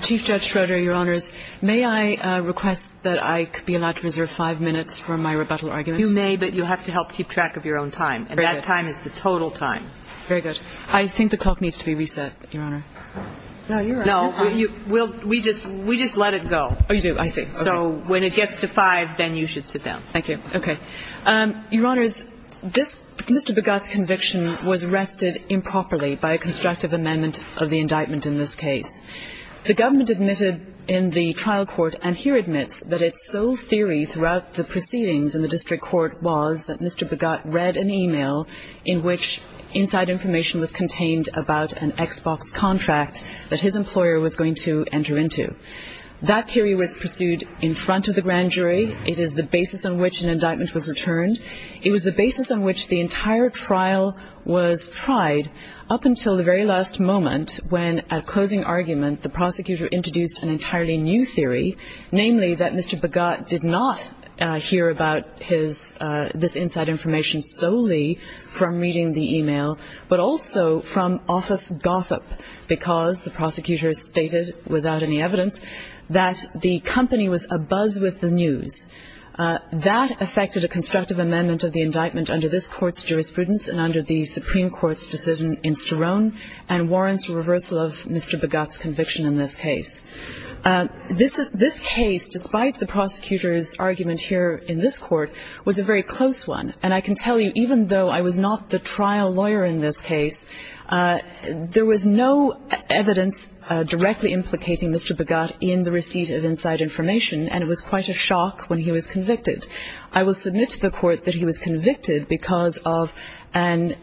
Chief Judge Schroeder, Your Honors, may I request that I be allowed to reserve five minutes for my rebuttal argument? You may, but you have to help keep track of your own time, and that time is the total time. Very good. I think the clock needs to be reset, Your Honor. No, we just let it go. Oh, you do? I see. So when it gets to five, then you should sit down. Thank you. Okay. Your Honors, Mr. Bhagat's conviction was arrested improperly by a constructive amendment of the indictment in this case. The government admitted in the trial court, and here admits, that its sole theory throughout the proceedings in the district court was that Mr. Bhagat read an email in which inside information was contained about an Xbox contract that his employer was going to enter into. That theory was pursued in front of the grand jury. It is the basis on which an indictment was returned. It was the basis on which the entire trial was tried up until the very last moment when at closing argument the prosecutor introduced an entirely new theory, namely that Mr. Bhagat did not hear about this inside information solely from reading the email, but also from office gossip, because the prosecutor stated without any evidence that the company was abuzz with the news. That affected a constructive amendment of the indictment under this court's jurisprudence and under the Supreme Court's decision in Sterone, and warrants reversal of Mr. Bhagat's conviction in this case. This case, despite the prosecutor's argument here in this court, was a very close one. And I can tell you, even though I was not the trial lawyer in this case, there was no evidence directly implicating Mr. Bhagat in the receipt of inside information, and it was quite a shock when he was convicted. I will submit to the court that he was convicted because of an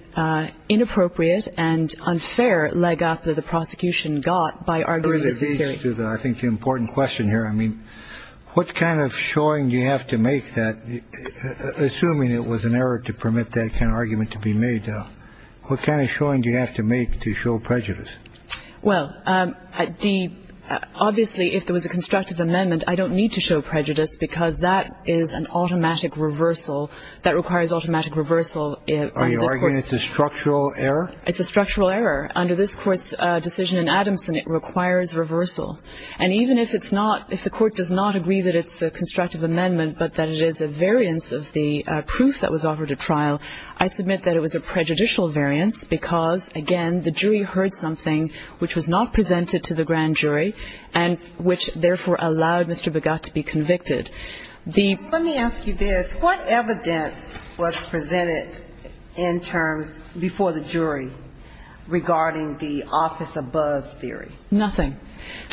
inappropriate and unfair leg up that the prosecution got by arguing this theory. I think the important question here, I mean, what kind of showing do you have to make that, assuming it was an error to permit that kind of argument to be made, what kind of showing do you have to make to show prejudice? Well, obviously if there was a constructive amendment, I don't need to show prejudice because that is an automatic reversal. That requires automatic reversal. Are you arguing it's a structural error? It's a structural error. Under this court's decision in Adamson, it requires reversal. And even if it's not, if the court does not agree that it's a constructive amendment but that it is a variance of the proof that was offered at trial, I submit that it was a prejudicial variance because, again, the jury heard something which was not presented to the grand jury and which therefore allowed Mr. Begat to be convicted. Let me ask you this. What evidence was presented in terms before the jury regarding the office-above theory? Nothing.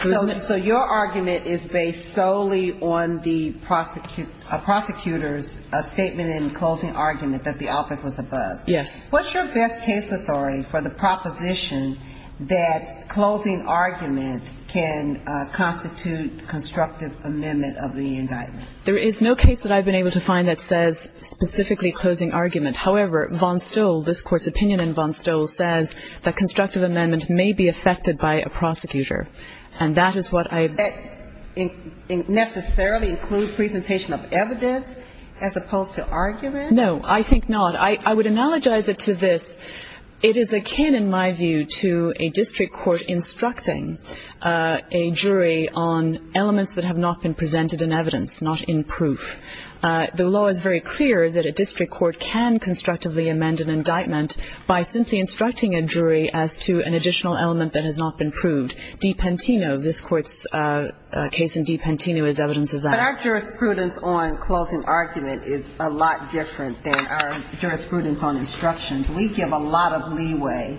So your argument is based solely on the prosecutor's statement and closing argument that the office was above. Yes. What's your best case authority for the proposition that closing argument can constitute constructive amendment of the indictment? There is no case that I've been able to find that says specifically closing argument. However, Von Stoll, this Court's opinion in Von Stoll, says that constructive amendment may be affected by a prosecutor. And that is what I've been able to find. Does that necessarily include presentation of evidence as opposed to argument? No, I think not. I would analogize it to this. It is akin, in my view, to a district court instructing a jury on elements that have not been presented in evidence, not in proof. The law is very clear that a district court can constructively amend an indictment by simply instructing a jury as to an additional element that has not been proved. Dipentino, this Court's case in Dipentino is evidence of that. But our jurisprudence on closing argument is a lot different than our jurisprudence on instructions. We give a lot of leeway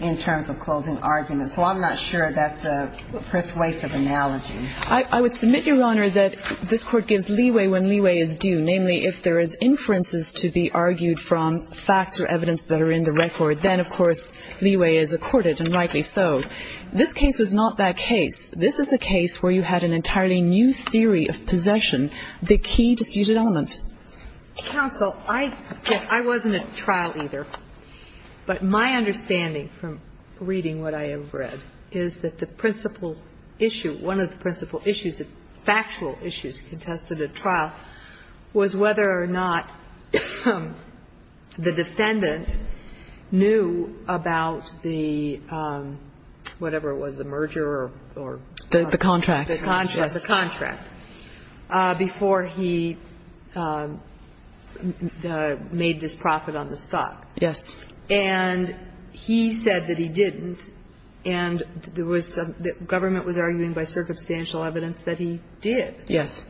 in terms of closing argument. So I'm not sure that's a persuasive analogy. I would submit, Your Honor, that this Court gives leeway when leeway is due. Namely, if there is inferences to be argued from facts or evidence that are in the record, then, of course, leeway is accorded, and rightly so. This case was not that case. This is a case where you had an entirely new theory of possession, the key disputed element. Counsel, I wasn't at trial either, but my understanding from reading what I have read is that the principal issue, one of the principal issues, factual issues contested at trial was whether or not the defendant knew about the, whatever it was, the merger or... The contract. The contract. Before he made this profit on the stock. Yes. And he said that he didn't, and there was some government was arguing by circumstantial evidence that he did. Yes.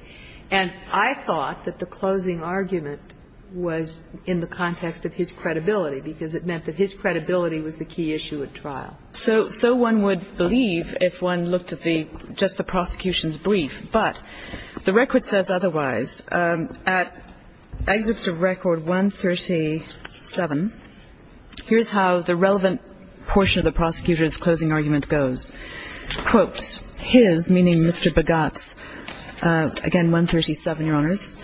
And I thought that the closing argument was in the context of his credibility, because it meant that his credibility was the key issue at trial. So one would believe if one looked at the, just the prosecution's brief. But the record says otherwise. At excerpt of record 137, here's how the relevant portion of the prosecutor's closing argument goes. Quote, his, meaning Mr. Bogats, again, 137, Your Honors.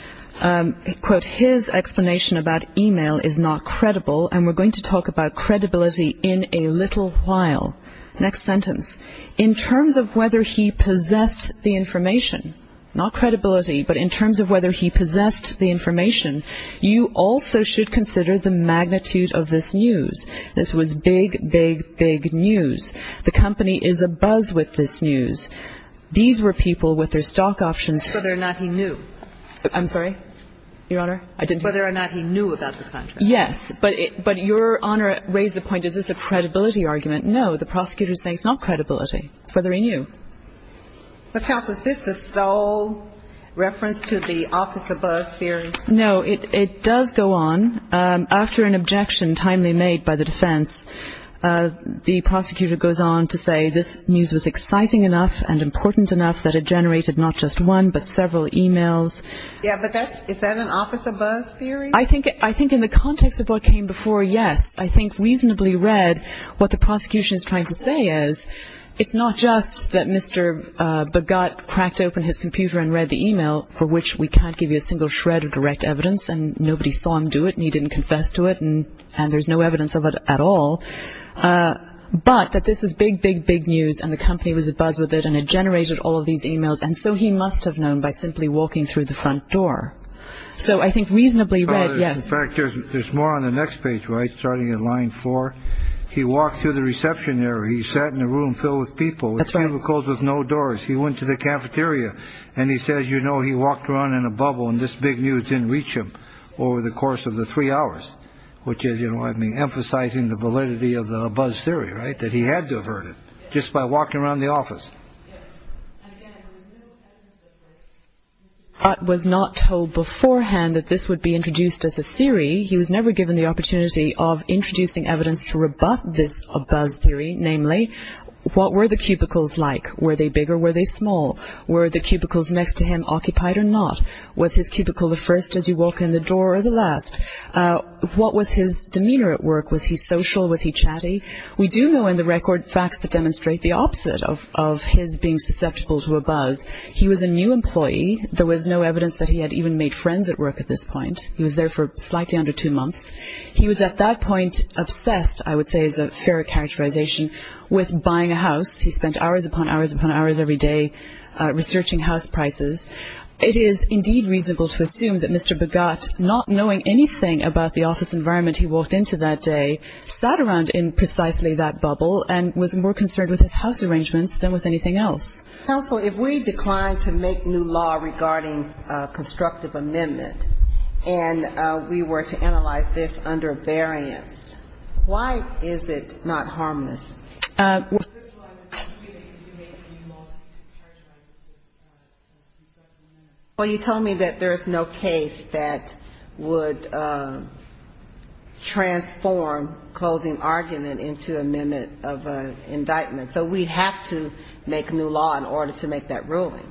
Quote, his explanation about e-mail is not credible, and we're going to talk about credibility in a little while. Next sentence. In terms of whether he possessed the information, not credibility, but in terms of whether he possessed the information, you also should consider the magnitude of this news. This was big, big, big news. The company is abuzz with this news. These were people with their stock options... Whether or not he knew. I'm sorry? Your Honor? Whether or not he knew about the contract. Yes. But your Honor raised the point, is this a credibility argument? No. The prosecutor is saying it's not credibility. It's whether he knew. But, Counsel, is this the sole reference to the office-abuzz theory? No. It does go on. After an objection timely made by the defense, the prosecutor goes on to say this news was exciting enough and important enough that it generated not just one, but several e-mails. Yeah. But that's, is that an office-abuzz theory? I think in the context of what came before, yes. I think reasonably read, what the prosecution is trying to say is it's not just that Mr. Begutt cracked open his computer and read the e-mail, for which we can't give you a single shred of direct evidence, and nobody saw him do it, and he didn't confess to it, and there's no evidence of it at all, but that this was big, big, big news, and the company was abuzz with it, and it generated all of these e-mails, and so he must have known by simply walking through the front door. So I think reasonably read, yes. In fact, there's more on the next page, right, starting at line four. He walked through the reception area. He sat in a room filled with people. That's right. With cubicles with no doors. He went to the cafeteria, and he says, you know, he walked around in a bubble, and this big news didn't reach him over the course of the three hours, which is, you know what I mean, emphasizing the validity of the abuzz theory, right, that he had to have heard it just by walking around the office. Yes. And again, there was no evidence of it. He was not told beforehand that this would be introduced as a theory. He was never given the opportunity of introducing evidence to rebut this abuzz theory, namely, what were the cubicles like? Were they big or were they small? Were the cubicles next to him occupied or not? Was his cubicle the first as you walk in the door or the last? What was his demeanor at work? Was he social? Was he chatty? We do know in the record facts that demonstrate the opposite of his being susceptible to abuzz. He was a new employee. There was no evidence that he had even made friends at work at this point. He was there for slightly under two months. He was at that point obsessed, I would say is a fair characterization, with buying a house. He spent hours upon hours upon hours every day researching house prices. It is indeed reasonable to assume that Mr. Begat, not knowing anything about the office environment he walked into that day, sat around in precisely that bubble and was more concerned with his house arrangements than with anything else. Counsel, if we declined to make new law regarding constructive amendment and we were to analyze this under a variance, why is it not harmless? Well, you told me that there is no case that would transform closing argument into amendment of an indictment. So we'd have to make new law in order to make that ruling.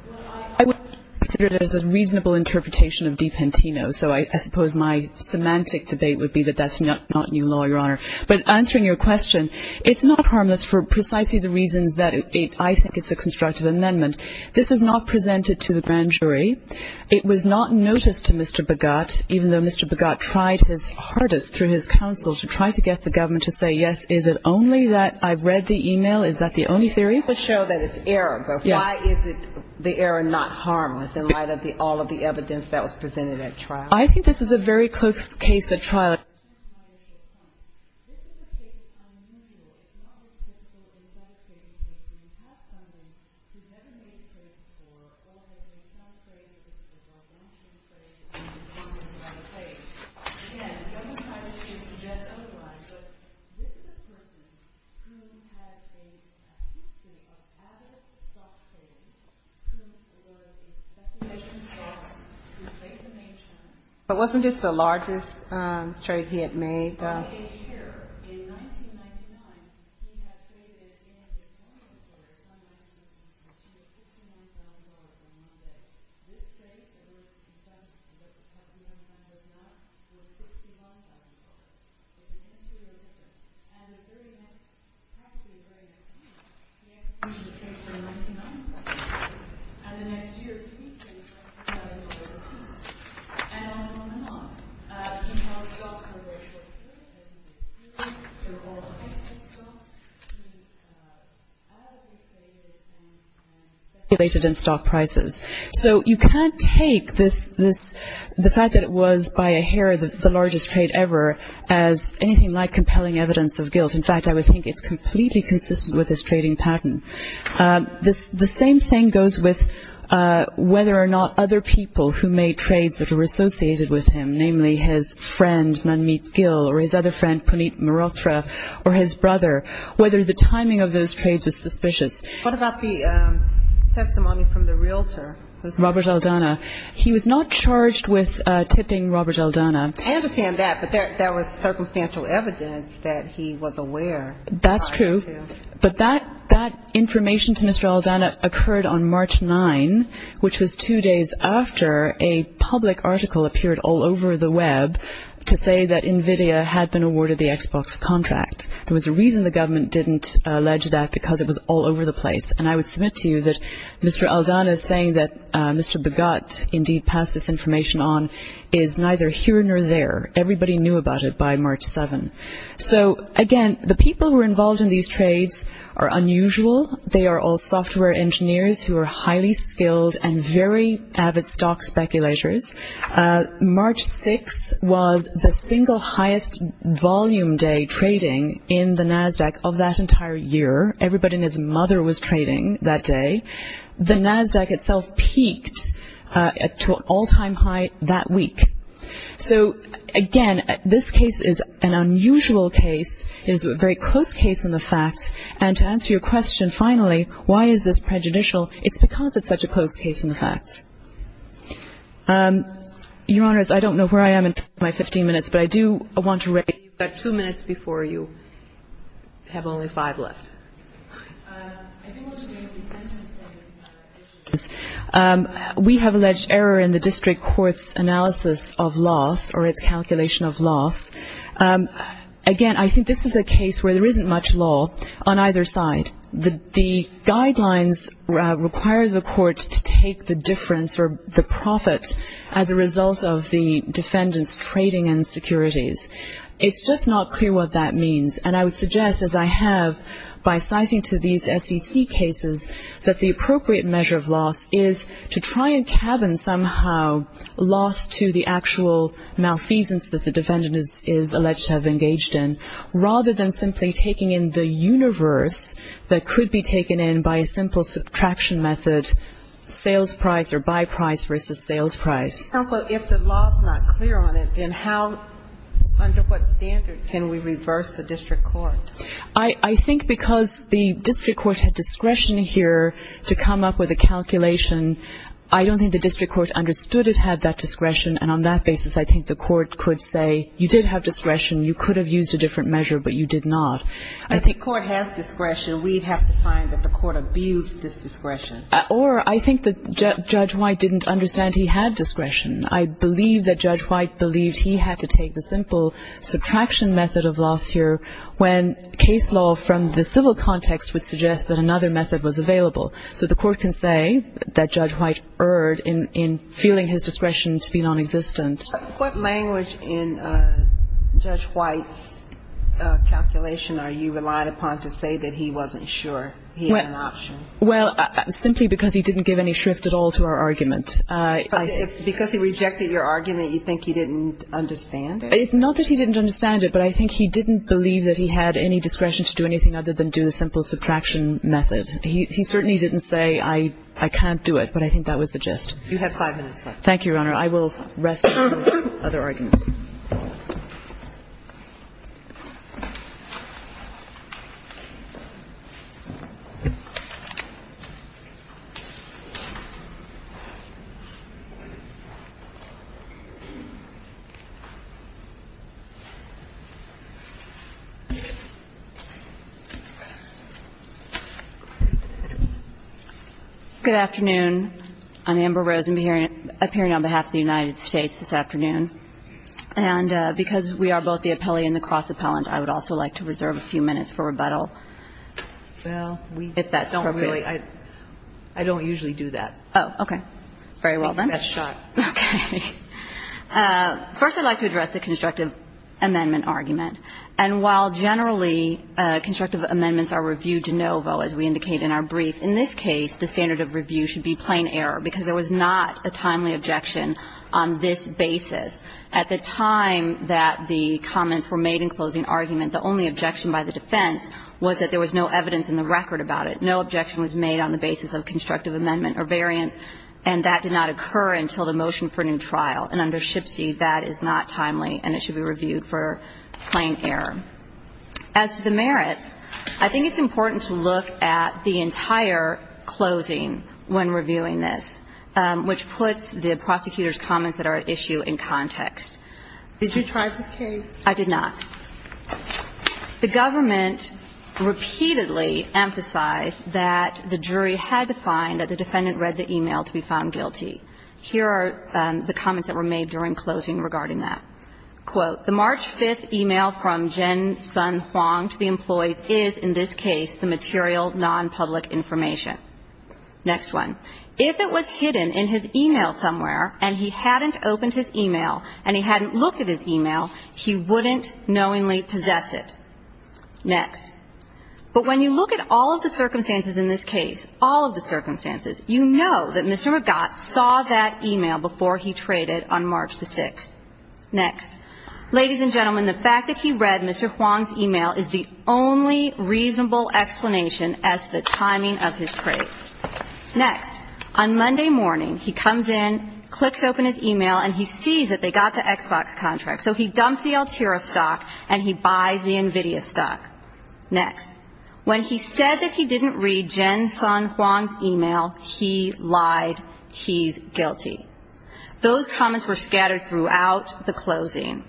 I would consider it as a reasonable interpretation of Dipentino. So I suppose my semantic debate would be that that's not new law, Your Honor. But answering your question, it's not harmless for precisely the reasons that I think it's a constructive amendment. This was not presented to the grand jury. It was not noticed to Mr. Begat, even though Mr. Begat tried his hardest through his counsel to try to get the government to say, yes, is it only that I've read the e-mail? Is that the only theory? It would show that it's error, but why is the error not harmless in light of all of the evidence that was presented at trial? I think this is a very close case at trial. But wasn't this the largest trailblazer case? In here, in 1999, we have traded in a $59,000 amendment. This case, it was confessed that the $59,000 amendment was $61,000. And the very next, probably the very next week, we ask you to trade for a $99,000 amendment. And the next year, three cases, $20,000 apiece. And on and on. He held stocks for a very short period. As he was doing, he was doing all kinds of stocks. He advocated and circulated in stock prices. So you can't take this, the fact that it was, by a hair, the largest trade ever, as anything like compelling evidence of guilt. In fact, I would think it's completely consistent with his trading pattern. The same thing goes with whether or not other people who made trades that were associated with him, namely his friend, Manmeet Gill, or his other friend, Puneet Mehrotra, or his brother, whether the timing of those trades was suspicious. What about the testimony from the realtor? Robert Aldana. He was not charged with tipping Robert Aldana. I understand that. But there was circumstantial evidence that he was aware. That's true. But that information to Mr. Aldana occurred on March 9, which was two days after a public article appeared all over the Web to say that NVIDIA had been awarded the Xbox contract. There was a reason the government didn't allege that, because it was all over the place. And I would submit to you that Mr. Aldana's saying that Mr. Begut, indeed, passed this information on, is neither here nor there. Everybody knew about it by March 7. So, again, the people who were involved in these trades are unusual. They are all software engineers who are highly skilled and very avid stock speculators. March 6 was the single highest volume day trading in the NASDAQ of that entire year. Everybody and his mother was trading that day. The NASDAQ itself peaked to an all-time high that week. So, again, this case is an unusual case. It is a very close case in the facts. And to answer your question, finally, why is this prejudicial? It's because it's such a close case in the facts. Your Honors, I don't know where I am in my 15 minutes, but I do want to raise the issue. You've got two minutes before you have only five left. I do want to raise the sentencing issues. We have alleged error in the district court's analysis of loss or its calculation of loss. Again, I think this is a case where there isn't much law on either side. The guidelines require the court to take the difference or the profit as a result of the defendant's trading insecurities. It's just not clear what that means. And I would suggest, as I have by citing to these SEC cases, that the appropriate measure of loss is to try and cabin somehow loss to the actual malfeasance that the defendant is alleged to have engaged in, rather than simply taking in the universe that could be taken in by a simple subtraction method, sales price or buy price versus sales price. Counsel, if the law is not clear on it, then under what standard can we reverse the district court? I think because the district court had discretion here to come up with a calculation, I don't think the district court understood it had that discretion, and on that basis I think the court could say you did have discretion, you could have used a different measure, but you did not. If the court has discretion, we'd have to find that the court abused this discretion. Or I think that Judge White didn't understand he had discretion. I believe that Judge White believed he had to take the simple subtraction method of loss here when case law from the civil context would suggest that another method was available. So the court can say that Judge White erred in feeling his discretion to be nonexistent. What language in Judge White's calculation are you relying upon to say that he wasn't sure he had an option? Well, simply because he didn't give any shrift at all to our argument. Because he rejected your argument, you think he didn't understand it? It's not that he didn't understand it, but I think he didn't believe that he had any discretion to do anything other than do the simple subtraction method. He certainly didn't say I can't do it, but I think that was the gist. You have five minutes left. Thank you, Your Honor. I will rest for other arguments. Good afternoon. I'm Amber Rosen appearing on behalf of the United States this afternoon. And because we are both the appellee and the cross-appellant, I would also like to reserve a few minutes for rebuttal, if that's appropriate. Well, we don't really – I don't usually do that. Oh, okay. Very well, then. I think that's shot. Okay. First, I'd like to address the constructive amendment argument. And while generally constructive amendments are reviewed de novo, as we indicate in our brief, in this case, the standard of review should be plain error, because there was not a timely objection on this basis. At the time that the comments were made in closing argument, the only objection by the defense was that there was no evidence in the record about it. No objection was made on the basis of constructive amendment or variance, and that did not occur until the motion for new trial. And under SHPSE, that is not timely, and it should be reviewed for plain error. As to the merits, I think it's important to look at the entire closing when reviewing this, which puts the prosecutor's comments that are at issue in context. Did you try this case? I did not. The government repeatedly emphasized that the jury had to find that the defendant read the e-mail to be found guilty. Here are the comments that were made during closing regarding that. Quote, The March 5th e-mail from Jen Sun Huang to the employees is, in this case, the material nonpublic information. Next one. If it was hidden in his e-mail somewhere and he hadn't opened his e-mail and he hadn't looked at his e-mail, he wouldn't knowingly possess it. Next. But when you look at all of the circumstances in this case, all of the circumstances, you know that Mr. McGott saw that e-mail before he traded on March the 6th. Next. Ladies and gentlemen, the fact that he read Mr. Huang's e-mail is the only reasonable explanation as to the timing of his trade. Next. On Monday morning, he comes in, clicks open his e-mail, and he sees that they got the Xbox contract. So he dumped the Altera stock and he buys the NVIDIA stock. Next. When he said that he didn't read Jen Sun Huang's e-mail, he lied. He's guilty. Those comments were scattered throughout the closing.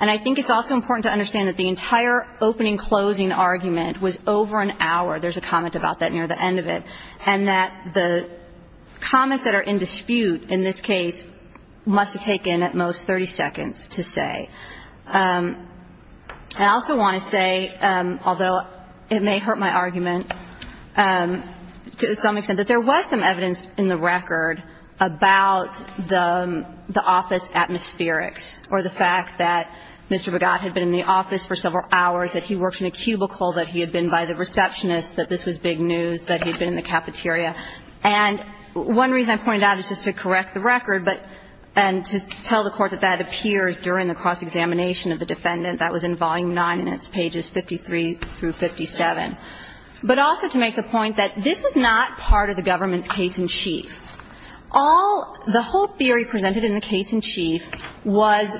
And I think it's also important to understand that the entire opening-closing argument was over an hour. There's a comment about that near the end of it. And that the comments that are in dispute in this case must have taken, at most, 30 seconds to say. I also want to say, although it may hurt my argument to some extent, that there was some evidence in the record about the office atmospherics or the fact that Mr. McGott had been in the office for several hours, that he worked in a cubicle, that he had been by the receptionist, that this was big news, that he'd been in the cafeteria. And one reason I pointed out is just to correct the record and to tell the Court that that appears during the cross-examination of the defendant. That was in Volume 9 and it's pages 53 through 57. But also to make the point that this was not part of the government's case in chief. All the whole theory presented in the case in chief was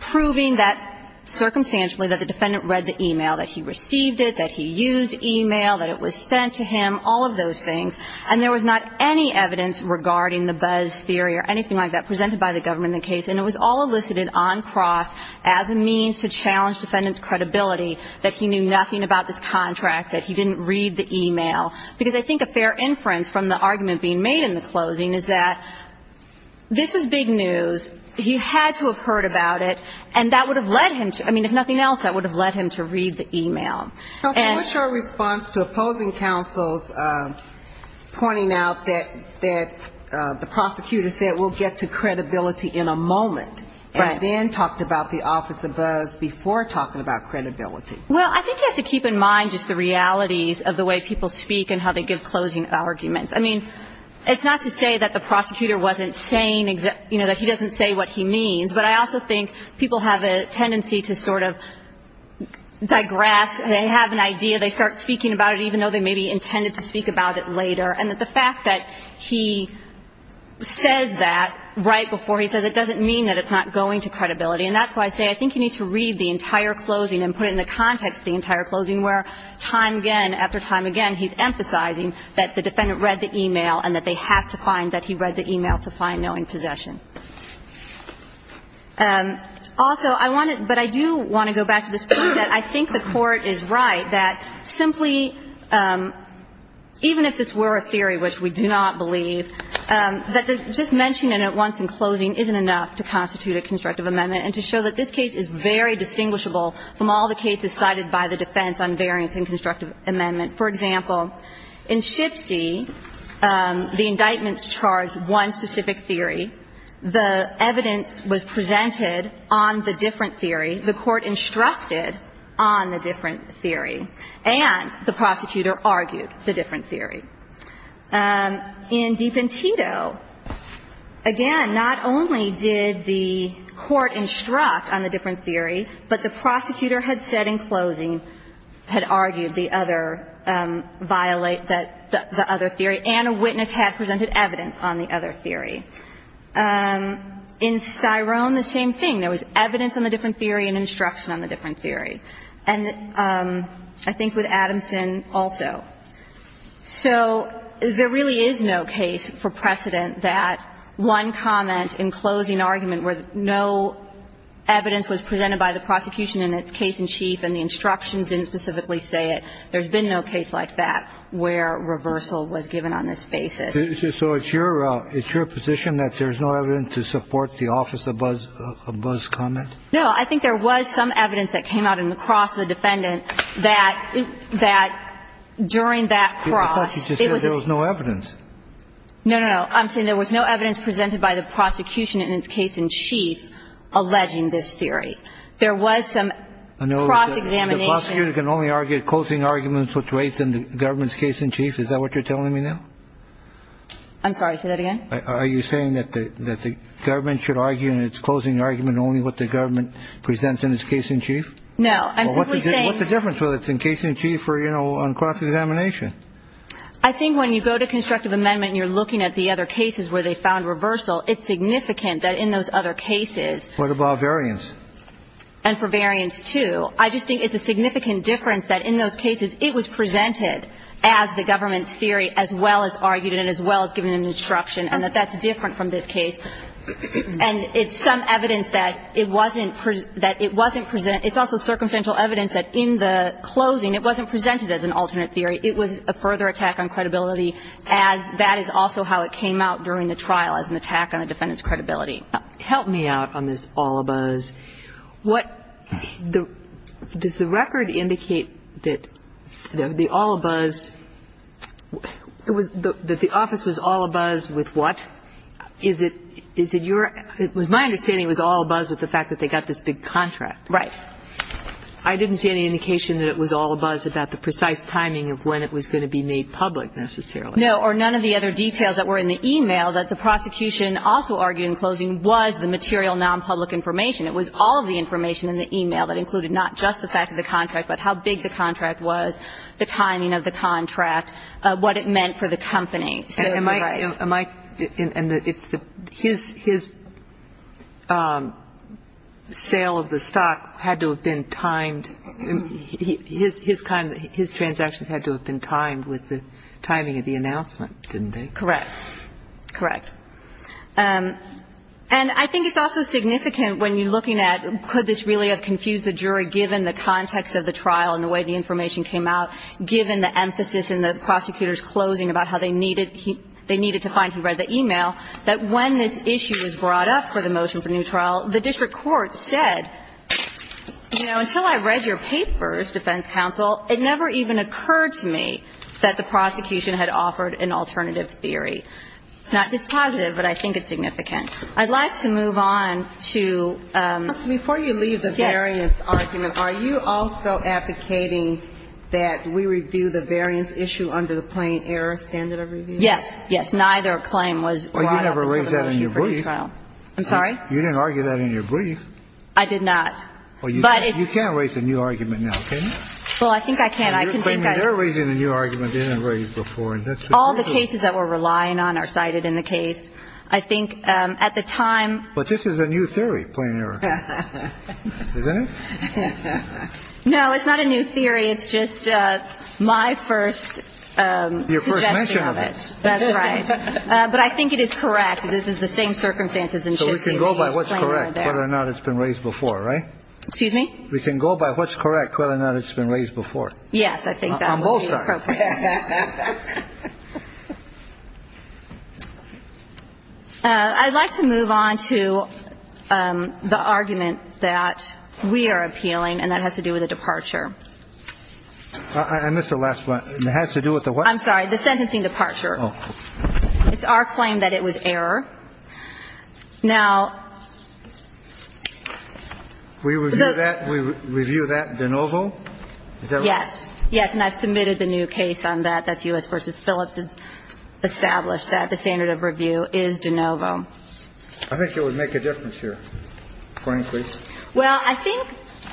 proving that, circumstantially, that the defendant read the e-mail, that he received it, that he used e-mail, that it was sent to him, all of those things. And there was not any evidence regarding the buzz theory or anything like that presented by the government in the case. And it was all elicited on cross as a means to challenge defendant's credibility that he knew nothing about this contract, that he didn't read the e-mail. Because I think a fair inference from the argument being made in the closing is that this was big news. He had to have heard about it. And that would have led him to, I mean, if nothing else, that would have led him to read the e-mail. And so what's your response to opposing counsels pointing out that the prosecutor said, we'll get to credibility in a moment. Right. And then talked about the office of buzz before talking about credibility. Well, I think you have to keep in mind just the realities of the way people speak and how they give closing arguments. I mean, it's not to say that the prosecutor wasn't saying, you know, that he doesn't say what he means. But I also think people have a tendency to sort of digress. They have an idea. They start speaking about it even though they maybe intended to speak about it later. And the fact that he says that right before he says it doesn't mean that it's not going to credibility. And that's why I say I think you need to read the entire closing and put it in the context of the entire closing where time again, after time again, he's emphasizing that the defendant read the e-mail and that they have to find that he read the e-mail to find knowing possession. Also, I want to – but I do want to go back to this point that I think the Court is right that simply even if this were a theory, which we do not believe, that just mentioning it once in closing isn't enough to constitute a constructive amendment and to show that this case is very distinguishable from all the cases cited by the defense on variance in constructive amendment. For example, in Shipsy, the indictments charged one specific theory. The evidence was presented on the different theory. The Court instructed on the different theory. And the prosecutor argued the different theory. In Dipentito, again, not only did the Court instruct on the different theory, but the prosecutor had said in closing, had argued the other – that the other theory and a witness had presented evidence on the other theory. In Styrone, the same thing. There was evidence on the different theory and instruction on the different theory, and I think with Adamson also. So there really is no case for precedent that one comment in closing argument where no evidence was presented by the prosecution in its case-in-chief and the instructions didn't specifically say it. There's been no case like that where reversal was given on this basis. So it's your – it's your position that there's no evidence to support the office of Buzz's comment? No. I think there was some evidence that came out in the cross of the defendant that – that during that cross, it was a – I thought you just said there was no evidence. No, no, no. I'm saying there was no evidence presented by the prosecution in its case-in-chief alleging this theory. There was some cross-examination. I know, but the prosecutor can only argue a closing argument in the government's case-in-chief. Is that what you're telling me now? I'm sorry. Say that again. Are you saying that the government should argue in its closing argument only what the government presents in its case-in-chief? No. I'm simply saying – What's the difference whether it's in case-in-chief or, you know, on cross-examination? I think when you go to constructive amendment and you're looking at the other cases where they found reversal, it's significant that in those other cases – What about variance? And for variance, too. I just think it's a significant difference that in those cases, it was presented as the government's theory as well as argued it and as well as given an instruction and that that's different from this case. And it's some evidence that it wasn't – that it wasn't – it's also circumstantial evidence that in the closing, it wasn't presented as an alternate theory. It was a further attack on credibility as that is also how it came out during the trial, as an attack on the defendant's credibility. Help me out on this all-abuzz. What – does the record indicate that the all-abuzz – that the office was all-abuzz with what? Is it your – it was my understanding it was all-abuzz with the fact that they got this big contract. Right. I didn't see any indication that it was all-abuzz about the precise timing of when it was going to be made public, necessarily. No, or none of the other details that were in the e-mail that the prosecution also argued in closing was the material non-public information. It was all of the information in the e-mail that included not just the fact of the contract, but how big the contract was, the timing of the contract, what it meant for the company. And his sale of the stock had to have been timed – his transactions had to have been timed with the timing of the announcement, didn't they? Correct. Correct. And I think it's also significant when you're looking at could this really have confused the jury given the context of the trial and the way the information came out, given the emphasis in the prosecutor's closing about how they needed – they needed to find who read the e-mail, that when this issue was brought up for the motion for new trial, the district court said, you know, until I read your papers, defense counsel, it never even occurred to me that the prosecution had offered an alternative theory. It's not dispositive, but I think it's significant. I'd like to move on to – Before you leave the variance argument, are you also advocating that we review the variance issue under the plain error standard of review? Yes. Yes. Neither claim was brought up for the motion for new trial. Well, you never raised that in your brief. I'm sorry? You didn't argue that in your brief. I did not. But it's – Well, you can't raise a new argument now, can you? Well, I think I can. I can think I can. And you're claiming they're raising the new argument they didn't raise before, and that's the truth of it. All the cases that we're relying on are cited in the case. I think at the time – But this is a new theory, plain error. Isn't it? No, it's not a new theory. It's just my first suggestion of it. Your first mention of it. That's right. But I think it is correct. This is the same circumstances in which – So we can go by what's correct, whether or not it's been raised before, right? Excuse me? We can go by what's correct, whether or not it's been raised before. Yes, I think that would be appropriate. On both sides. I'd like to move on to the argument that we are appealing, and that has to do with the departure. I missed the last one. It has to do with the what? I'm sorry. The sentencing departure. Oh. It's our claim that it was error. Now – We review that? We review that de novo? Is that right? Yes. Yes, and I've submitted the new case on that. That's U.S. v. Phillips has established that the standard of review is de novo. I think it would make a difference here, frankly. Well, I think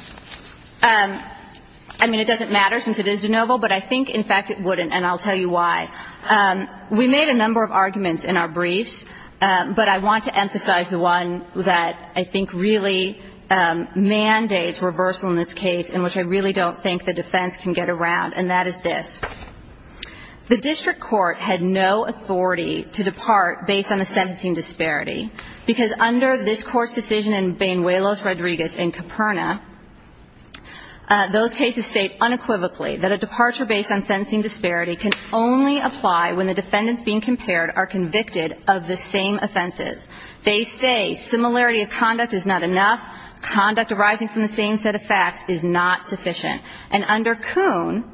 – I mean, it doesn't matter since it is de novo, but I think, in fact, it wouldn't, and I'll tell you why. We made a number of arguments in our briefs, but I want to emphasize the one that I think really mandates reversal in this case, and which I really don't think the defense can get around, and that is this. The district court had no authority to depart based on the sentencing disparity, because under this court's decision in Banuelos, Rodriguez and Caperna, those cases state unequivocally that a departure based on sentencing disparity can only apply when the defendants being compared are convicted of the same offenses. They say similarity of conduct is not enough. Conduct arising from the same set of facts is not sufficient. And under Kuhn,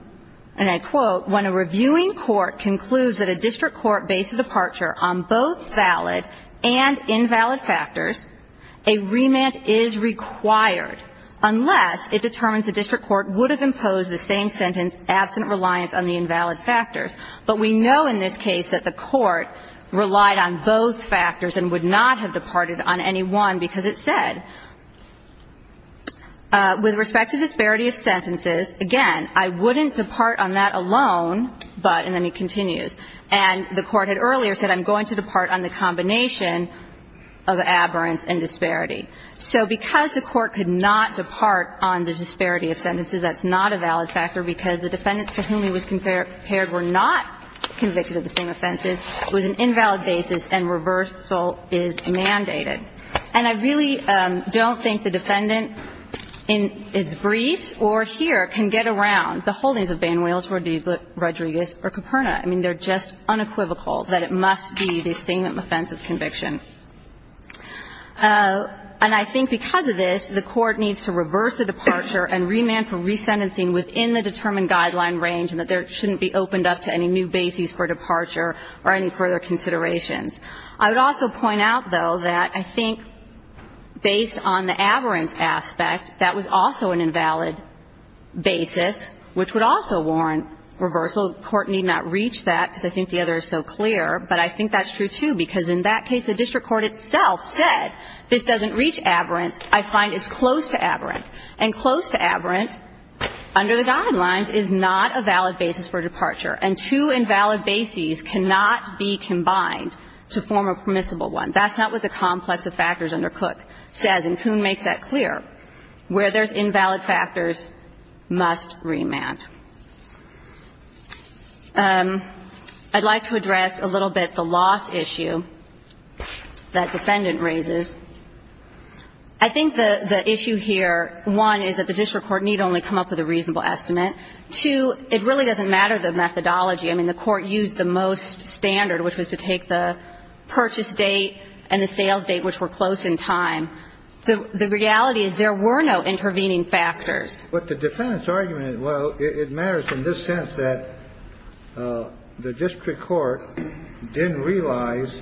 and I quote, when a reviewing court concludes that a district court based a departure on both valid and invalid factors, a remand is required unless it determines the district court would have imposed the same sentence, absent reliance on the invalid factors. But we know in this case that the court relied on both factors and would not have departed on any one, because it said, with respect to disparity of sentences, again, I wouldn't depart on that alone, but, and then it continues, and the court had earlier said, I'm going to depart on the combination of aberrance and disparity. So because the court could not depart on the disparity of sentences, that's not a valid factor because the defendants to whom he was compared were not convicted of the same offenses. It was an invalid basis, and reversal is mandated. And I really don't think the defendant in its briefs or here can get around the holdings of Banuels, Rodriguez, or Caperna. I mean, they're just unequivocal that it must be the same offense of conviction. And I think because of this, the court needs to reverse the departure and remand for resentencing within the determined guideline range and that there shouldn't be opened up to any new bases for departure or any further considerations. I would also point out, though, that I think based on the aberrance aspect, that was also an invalid basis, which would also warrant reversal. The court need not reach that because I think the other is so clear. But I think that's true, too, because in that case, the district court itself said this doesn't reach aberrance. I find it's close to aberrant. And close to aberrant, under the guidelines, is not a valid basis for departure. And two invalid bases cannot be combined to form a permissible one. That's not what the complex of factors under Cook says. And Coon makes that clear. Where there's invalid factors, must remand. I'd like to address a little bit the loss issue that Defendant raises. I think the issue here, one, is that the district court need only come up with a reasonable estimate. Two, it really doesn't matter the methodology. I mean, the court used the most standard, which was to take the purchase date and the sales date, which were close in time. The reality is there were no intervening factors. But the defendant's argument is, well, it matters in this sense that the district court didn't realize,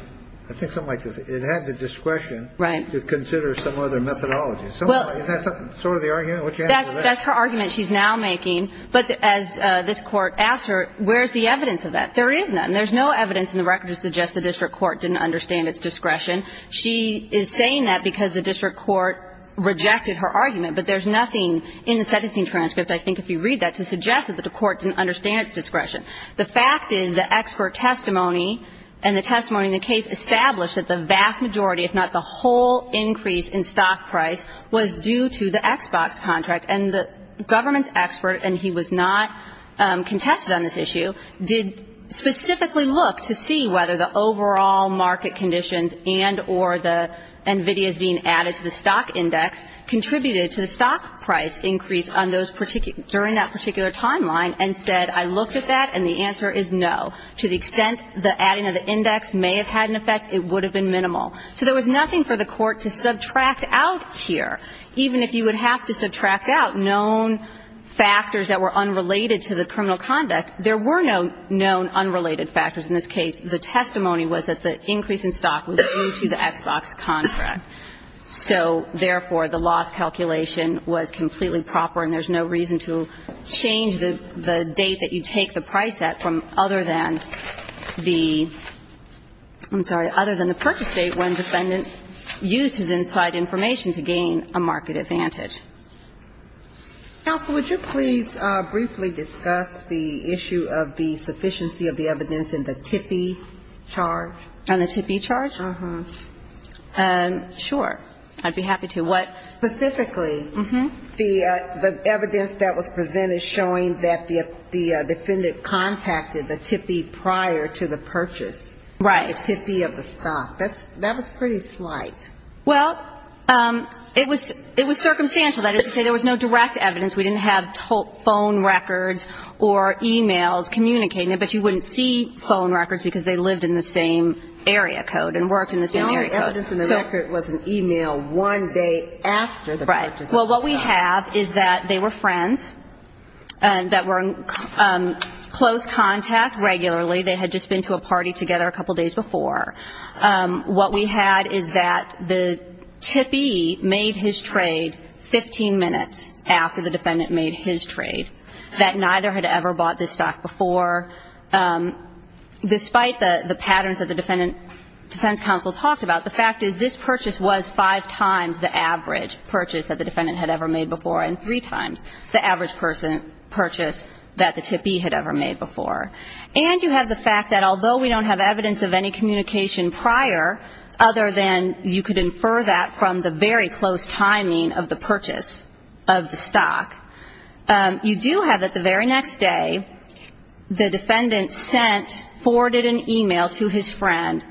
I think something like this, it had the discretion to consider some other methodology. Isn't that sort of the argument? What's your answer to that? That's her argument she's now making. But as this Court asked her, where's the evidence of that? There is none. There's no evidence in the record to suggest the district court didn't understand its discretion. She is saying that because the district court rejected her argument. But there's nothing in the sentencing transcript, I think, if you read that, to suggest that the court didn't understand its discretion. The fact is the expert testimony and the testimony in the case established that the vast majority, if not the whole increase in stock price, was due to the Xbox contract. And the government's expert, and he was not contested on this issue, did specifically look to see whether the overall market conditions and or the NVIDIA's being added to the stock index contributed to the stock price increase on those particular – during that particular timeline and said, I looked at that and the answer is no. To the extent the adding of the index may have had an effect, it would have been minimal. So there was nothing for the court to subtract out here. Even if you would have to subtract out known factors that were unrelated to the criminal conduct, there were no known unrelated factors in this case. The testimony was that the increase in stock was due to the Xbox contract. So, therefore, the loss calculation was completely proper and there's no reason to change the date that you take the price at from other than the – I'm sorry, other than the purchase date when the defendant used his inside information to gain a market advantage. Counsel, would you please briefly discuss the issue of the sufficiency of the evidence in the TIFI charge? On the TIFI charge? Sure. I'd be happy to. Specifically, the evidence that was presented showing that the defendant contacted the TIFI prior to the purchase. Right. The TIFI of the stock. That was pretty slight. Well, it was – it was circumstantial. That is to say there was no direct evidence. We didn't have phone records or e-mails communicating it, but you wouldn't see phone records because they lived in the same area code and worked in the same area code. The only evidence in the record was an e-mail one day after the purchase. Right. Well, what we have is that they were friends that were in close contact regularly. They had just been to a party together a couple days before. What we had is that the TIFI made his trade 15 minutes after the defendant made his trade, that neither had ever bought this stock before. Despite the patterns that the defendant's counsel talked about, the fact is this purchase was five times the average purchase that the defendant had ever made before and three times the average purchase that the TIFI had ever made before. And you have the fact that although we don't have evidence of any communication prior other than you could infer that from the very close timing of the purchase of the stock, you do have that the very next day the defendant sent, forwarded an e-mail to his friend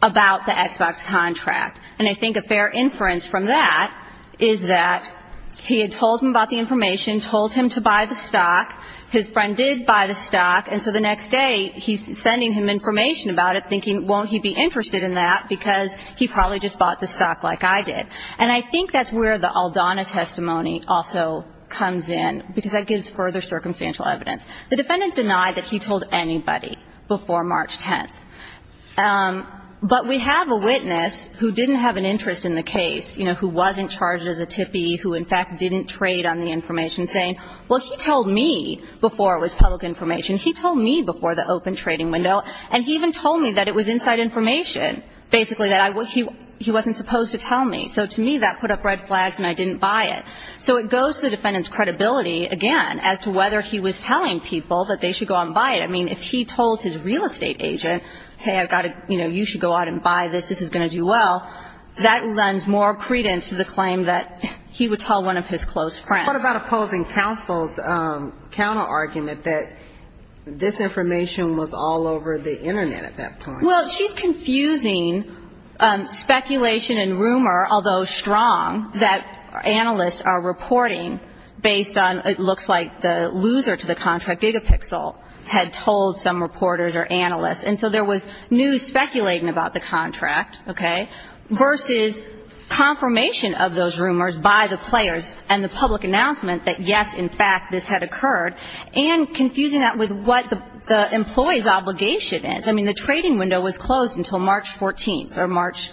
about the Xbox contract. And I think a fair inference from that is that he had told him about the information, told him to buy the stock, his friend did buy the stock, and so the next day he's sending him information about it thinking, won't he be interested in that because he probably just bought the stock like I did. And I think that's where the Aldana testimony also comes in, because that gives further circumstantial evidence. The defendant denied that he told anybody before March 10th. But we have a witness who didn't have an interest in the case, you know, who wasn't charged as a TIFI, who, in fact, didn't trade on the information, saying, well, he told me before it was public information. He told me before the open trading window. And he even told me that it was inside information, basically, that he wasn't supposed to tell me. So to me, that put up red flags and I didn't buy it. So it goes to the defendant's credibility, again, as to whether he was telling people that they should go out and buy it. I mean, if he told his real estate agent, hey, I've got to, you know, you should go out and buy this, this is going to do well, that lends more credence to the claim that he would tell one of his close friends. What about opposing counsel's counterargument that this information was all over the Internet at that point? Well, she's confusing speculation and rumor, although strong, that analysts are reporting based on it looks like the loser to the contract, Gigapixel, had told some reporters or analysts. And so there was news speculating about the contract, okay, versus confirmation of those rumors by the players and the public announcement that, yes, in fact, this had occurred, and confusing that with what the employee's obligation is. I mean, the trading window was closed until March 14th or March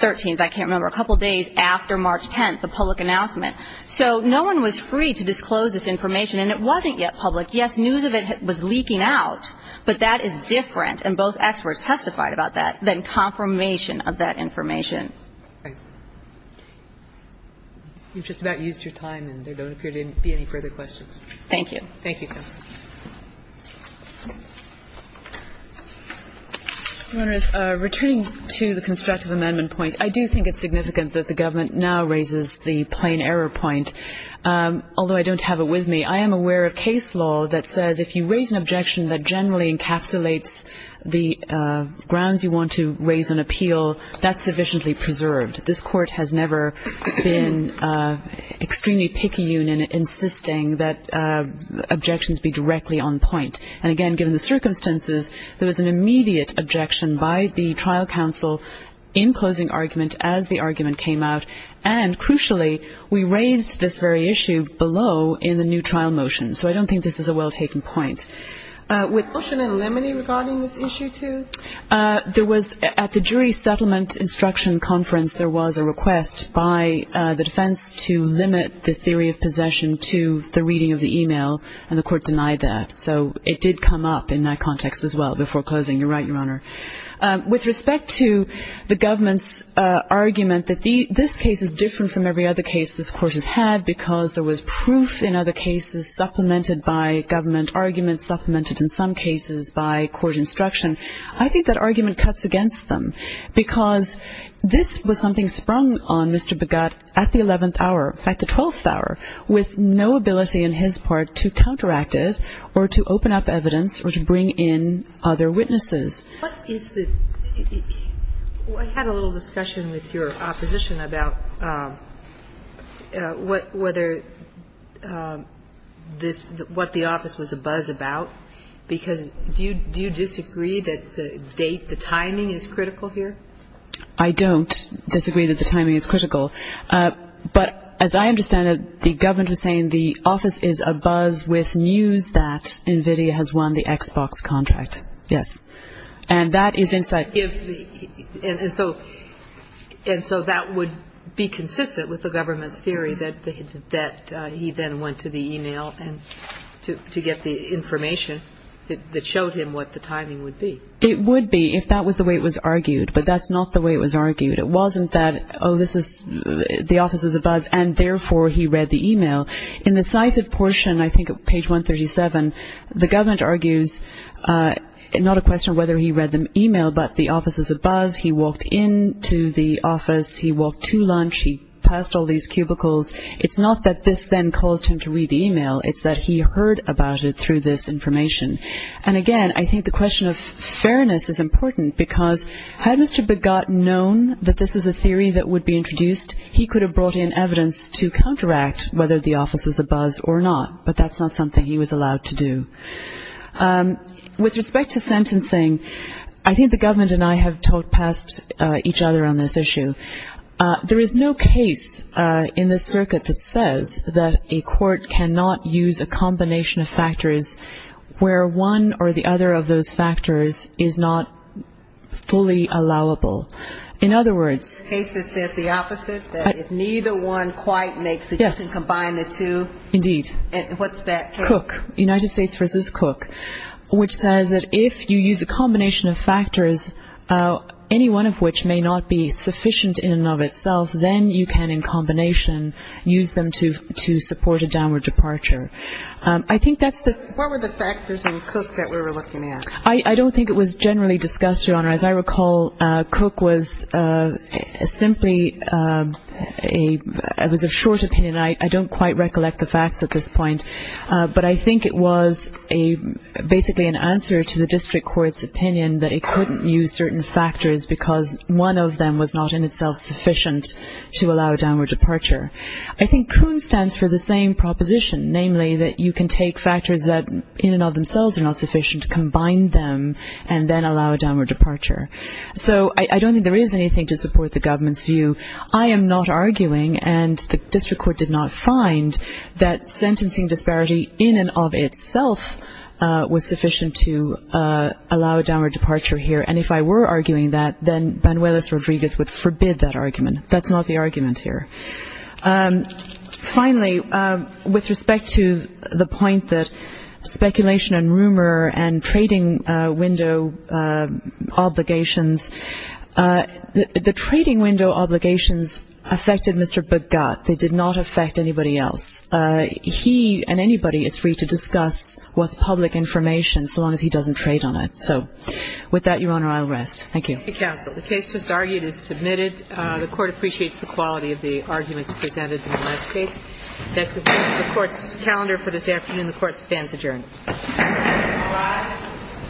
13th. I can't remember. A couple days after March 10th, the public announcement. So no one was free to disclose this information. And it wasn't yet public. Yes, news of it was leaking out, but that is different, and both experts testified about that, than confirmation of that information. Okay. You've just about used your time, and there don't appear to be any further questions. Thank you. Thank you, Justice. Your Honor, returning to the constructive amendment point, I do think it's significant that the government now raises the plain error point, although I don't have it with me. I am aware of case law that says if you raise an objection that generally encapsulates the grounds you want to raise on appeal, that's sufficiently preserved. This Court has never been extremely picky in insisting that objections be drawn directly on point. And, again, given the circumstances, there was an immediate objection by the trial counsel in closing argument as the argument came out, and, crucially, we raised this very issue below in the new trial motion. So I don't think this is a well-taken point. Was there a motion in limine regarding this issue, too? At the jury settlement instruction conference, there was a request by the defense to limit the theory of possession to the reading of the e-mail, and the Court denied that. So it did come up in that context as well before closing. You're right, Your Honor. With respect to the government's argument that this case is different from every other case this Court has had because there was proof in other cases supplemented by government arguments, supplemented in some cases by court instruction, I think that argument cuts against them because this was something sprung on Mr. Begutt at the 11th hour, in fact, the 12th hour, with no ability on his part to counteract it or to open up evidence or to bring in other witnesses. What is the – I had a little discussion with your opposition about whether this – what the office was abuzz about, because do you disagree that the date, the timing is critical here? I don't disagree that the timing is critical. But as I understand it, the government was saying the office is abuzz with news that NVIDIA has won the Xbox contract. Yes. And that is insight. And so that would be consistent with the government's theory that he then went to the e-mail to get the information that showed him what the timing would be. It would be if that was the way it was argued. But that's not the way it was argued. It wasn't that, oh, this was – the office was abuzz, and therefore he read the e-mail. In the cited portion, I think page 137, the government argues not a question of whether he read the e-mail, but the office was abuzz, he walked into the office, he walked to lunch, he passed all these cubicles. It's not that this then caused him to read the e-mail. It's that he heard about it through this information. And, again, I think the question of fairness is important, because had Mr. Begotten known that this was a theory that would be introduced, he could have brought in evidence to counteract whether the office was abuzz or not. But that's not something he was allowed to do. With respect to sentencing, I think the government and I have talked past each other on this issue. There is no case in this circuit that says that a court cannot use a combination of factors where one or the other of those factors is not fully allowable. In other words – The case that says the opposite, that if neither one quite makes it, you can combine the two? Indeed. And what's that case? Cook, United States v. Cook, which says that if you use a combination of factors, any one of which may not be sufficient in and of itself, then you can in combination use them to support a downward departure. I think that's the – What were the factors in Cook that we were looking at? I don't think it was generally discussed, Your Honor. As I recall, Cook was simply a – it was a short opinion. I don't quite recollect the facts at this point. But I think it was basically an answer to the district court's opinion that it couldn't use certain factors because one of them was not in itself sufficient to allow a downward departure. I think Coon stands for the same proposition, namely that you can take factors that in and of themselves are not sufficient, combine them, and then allow a downward departure. So I don't think there is anything to support the government's view. I am not arguing, and the district court did not find, that sentencing disparity in and of itself was sufficient to allow a downward departure here. And if I were arguing that, then Banuelos-Rodriguez would forbid that argument. That's not the argument here. Finally, with respect to the point that speculation and rumor and trading window obligations, the trading window obligations affected Mr. Begutt. They did not affect anybody else. He and anybody is free to discuss what's public information so long as he doesn't trade on it. So with that, Your Honor, I'll rest. Thank you. Thank you, counsel. The case just argued is submitted. The Court appreciates the quality of the arguments presented in the last case. That concludes the Court's calendar for this afternoon. The Court stands adjourned. Goodbye. The Court is adjourned. The Court is adjourned. Thank you. Thank you.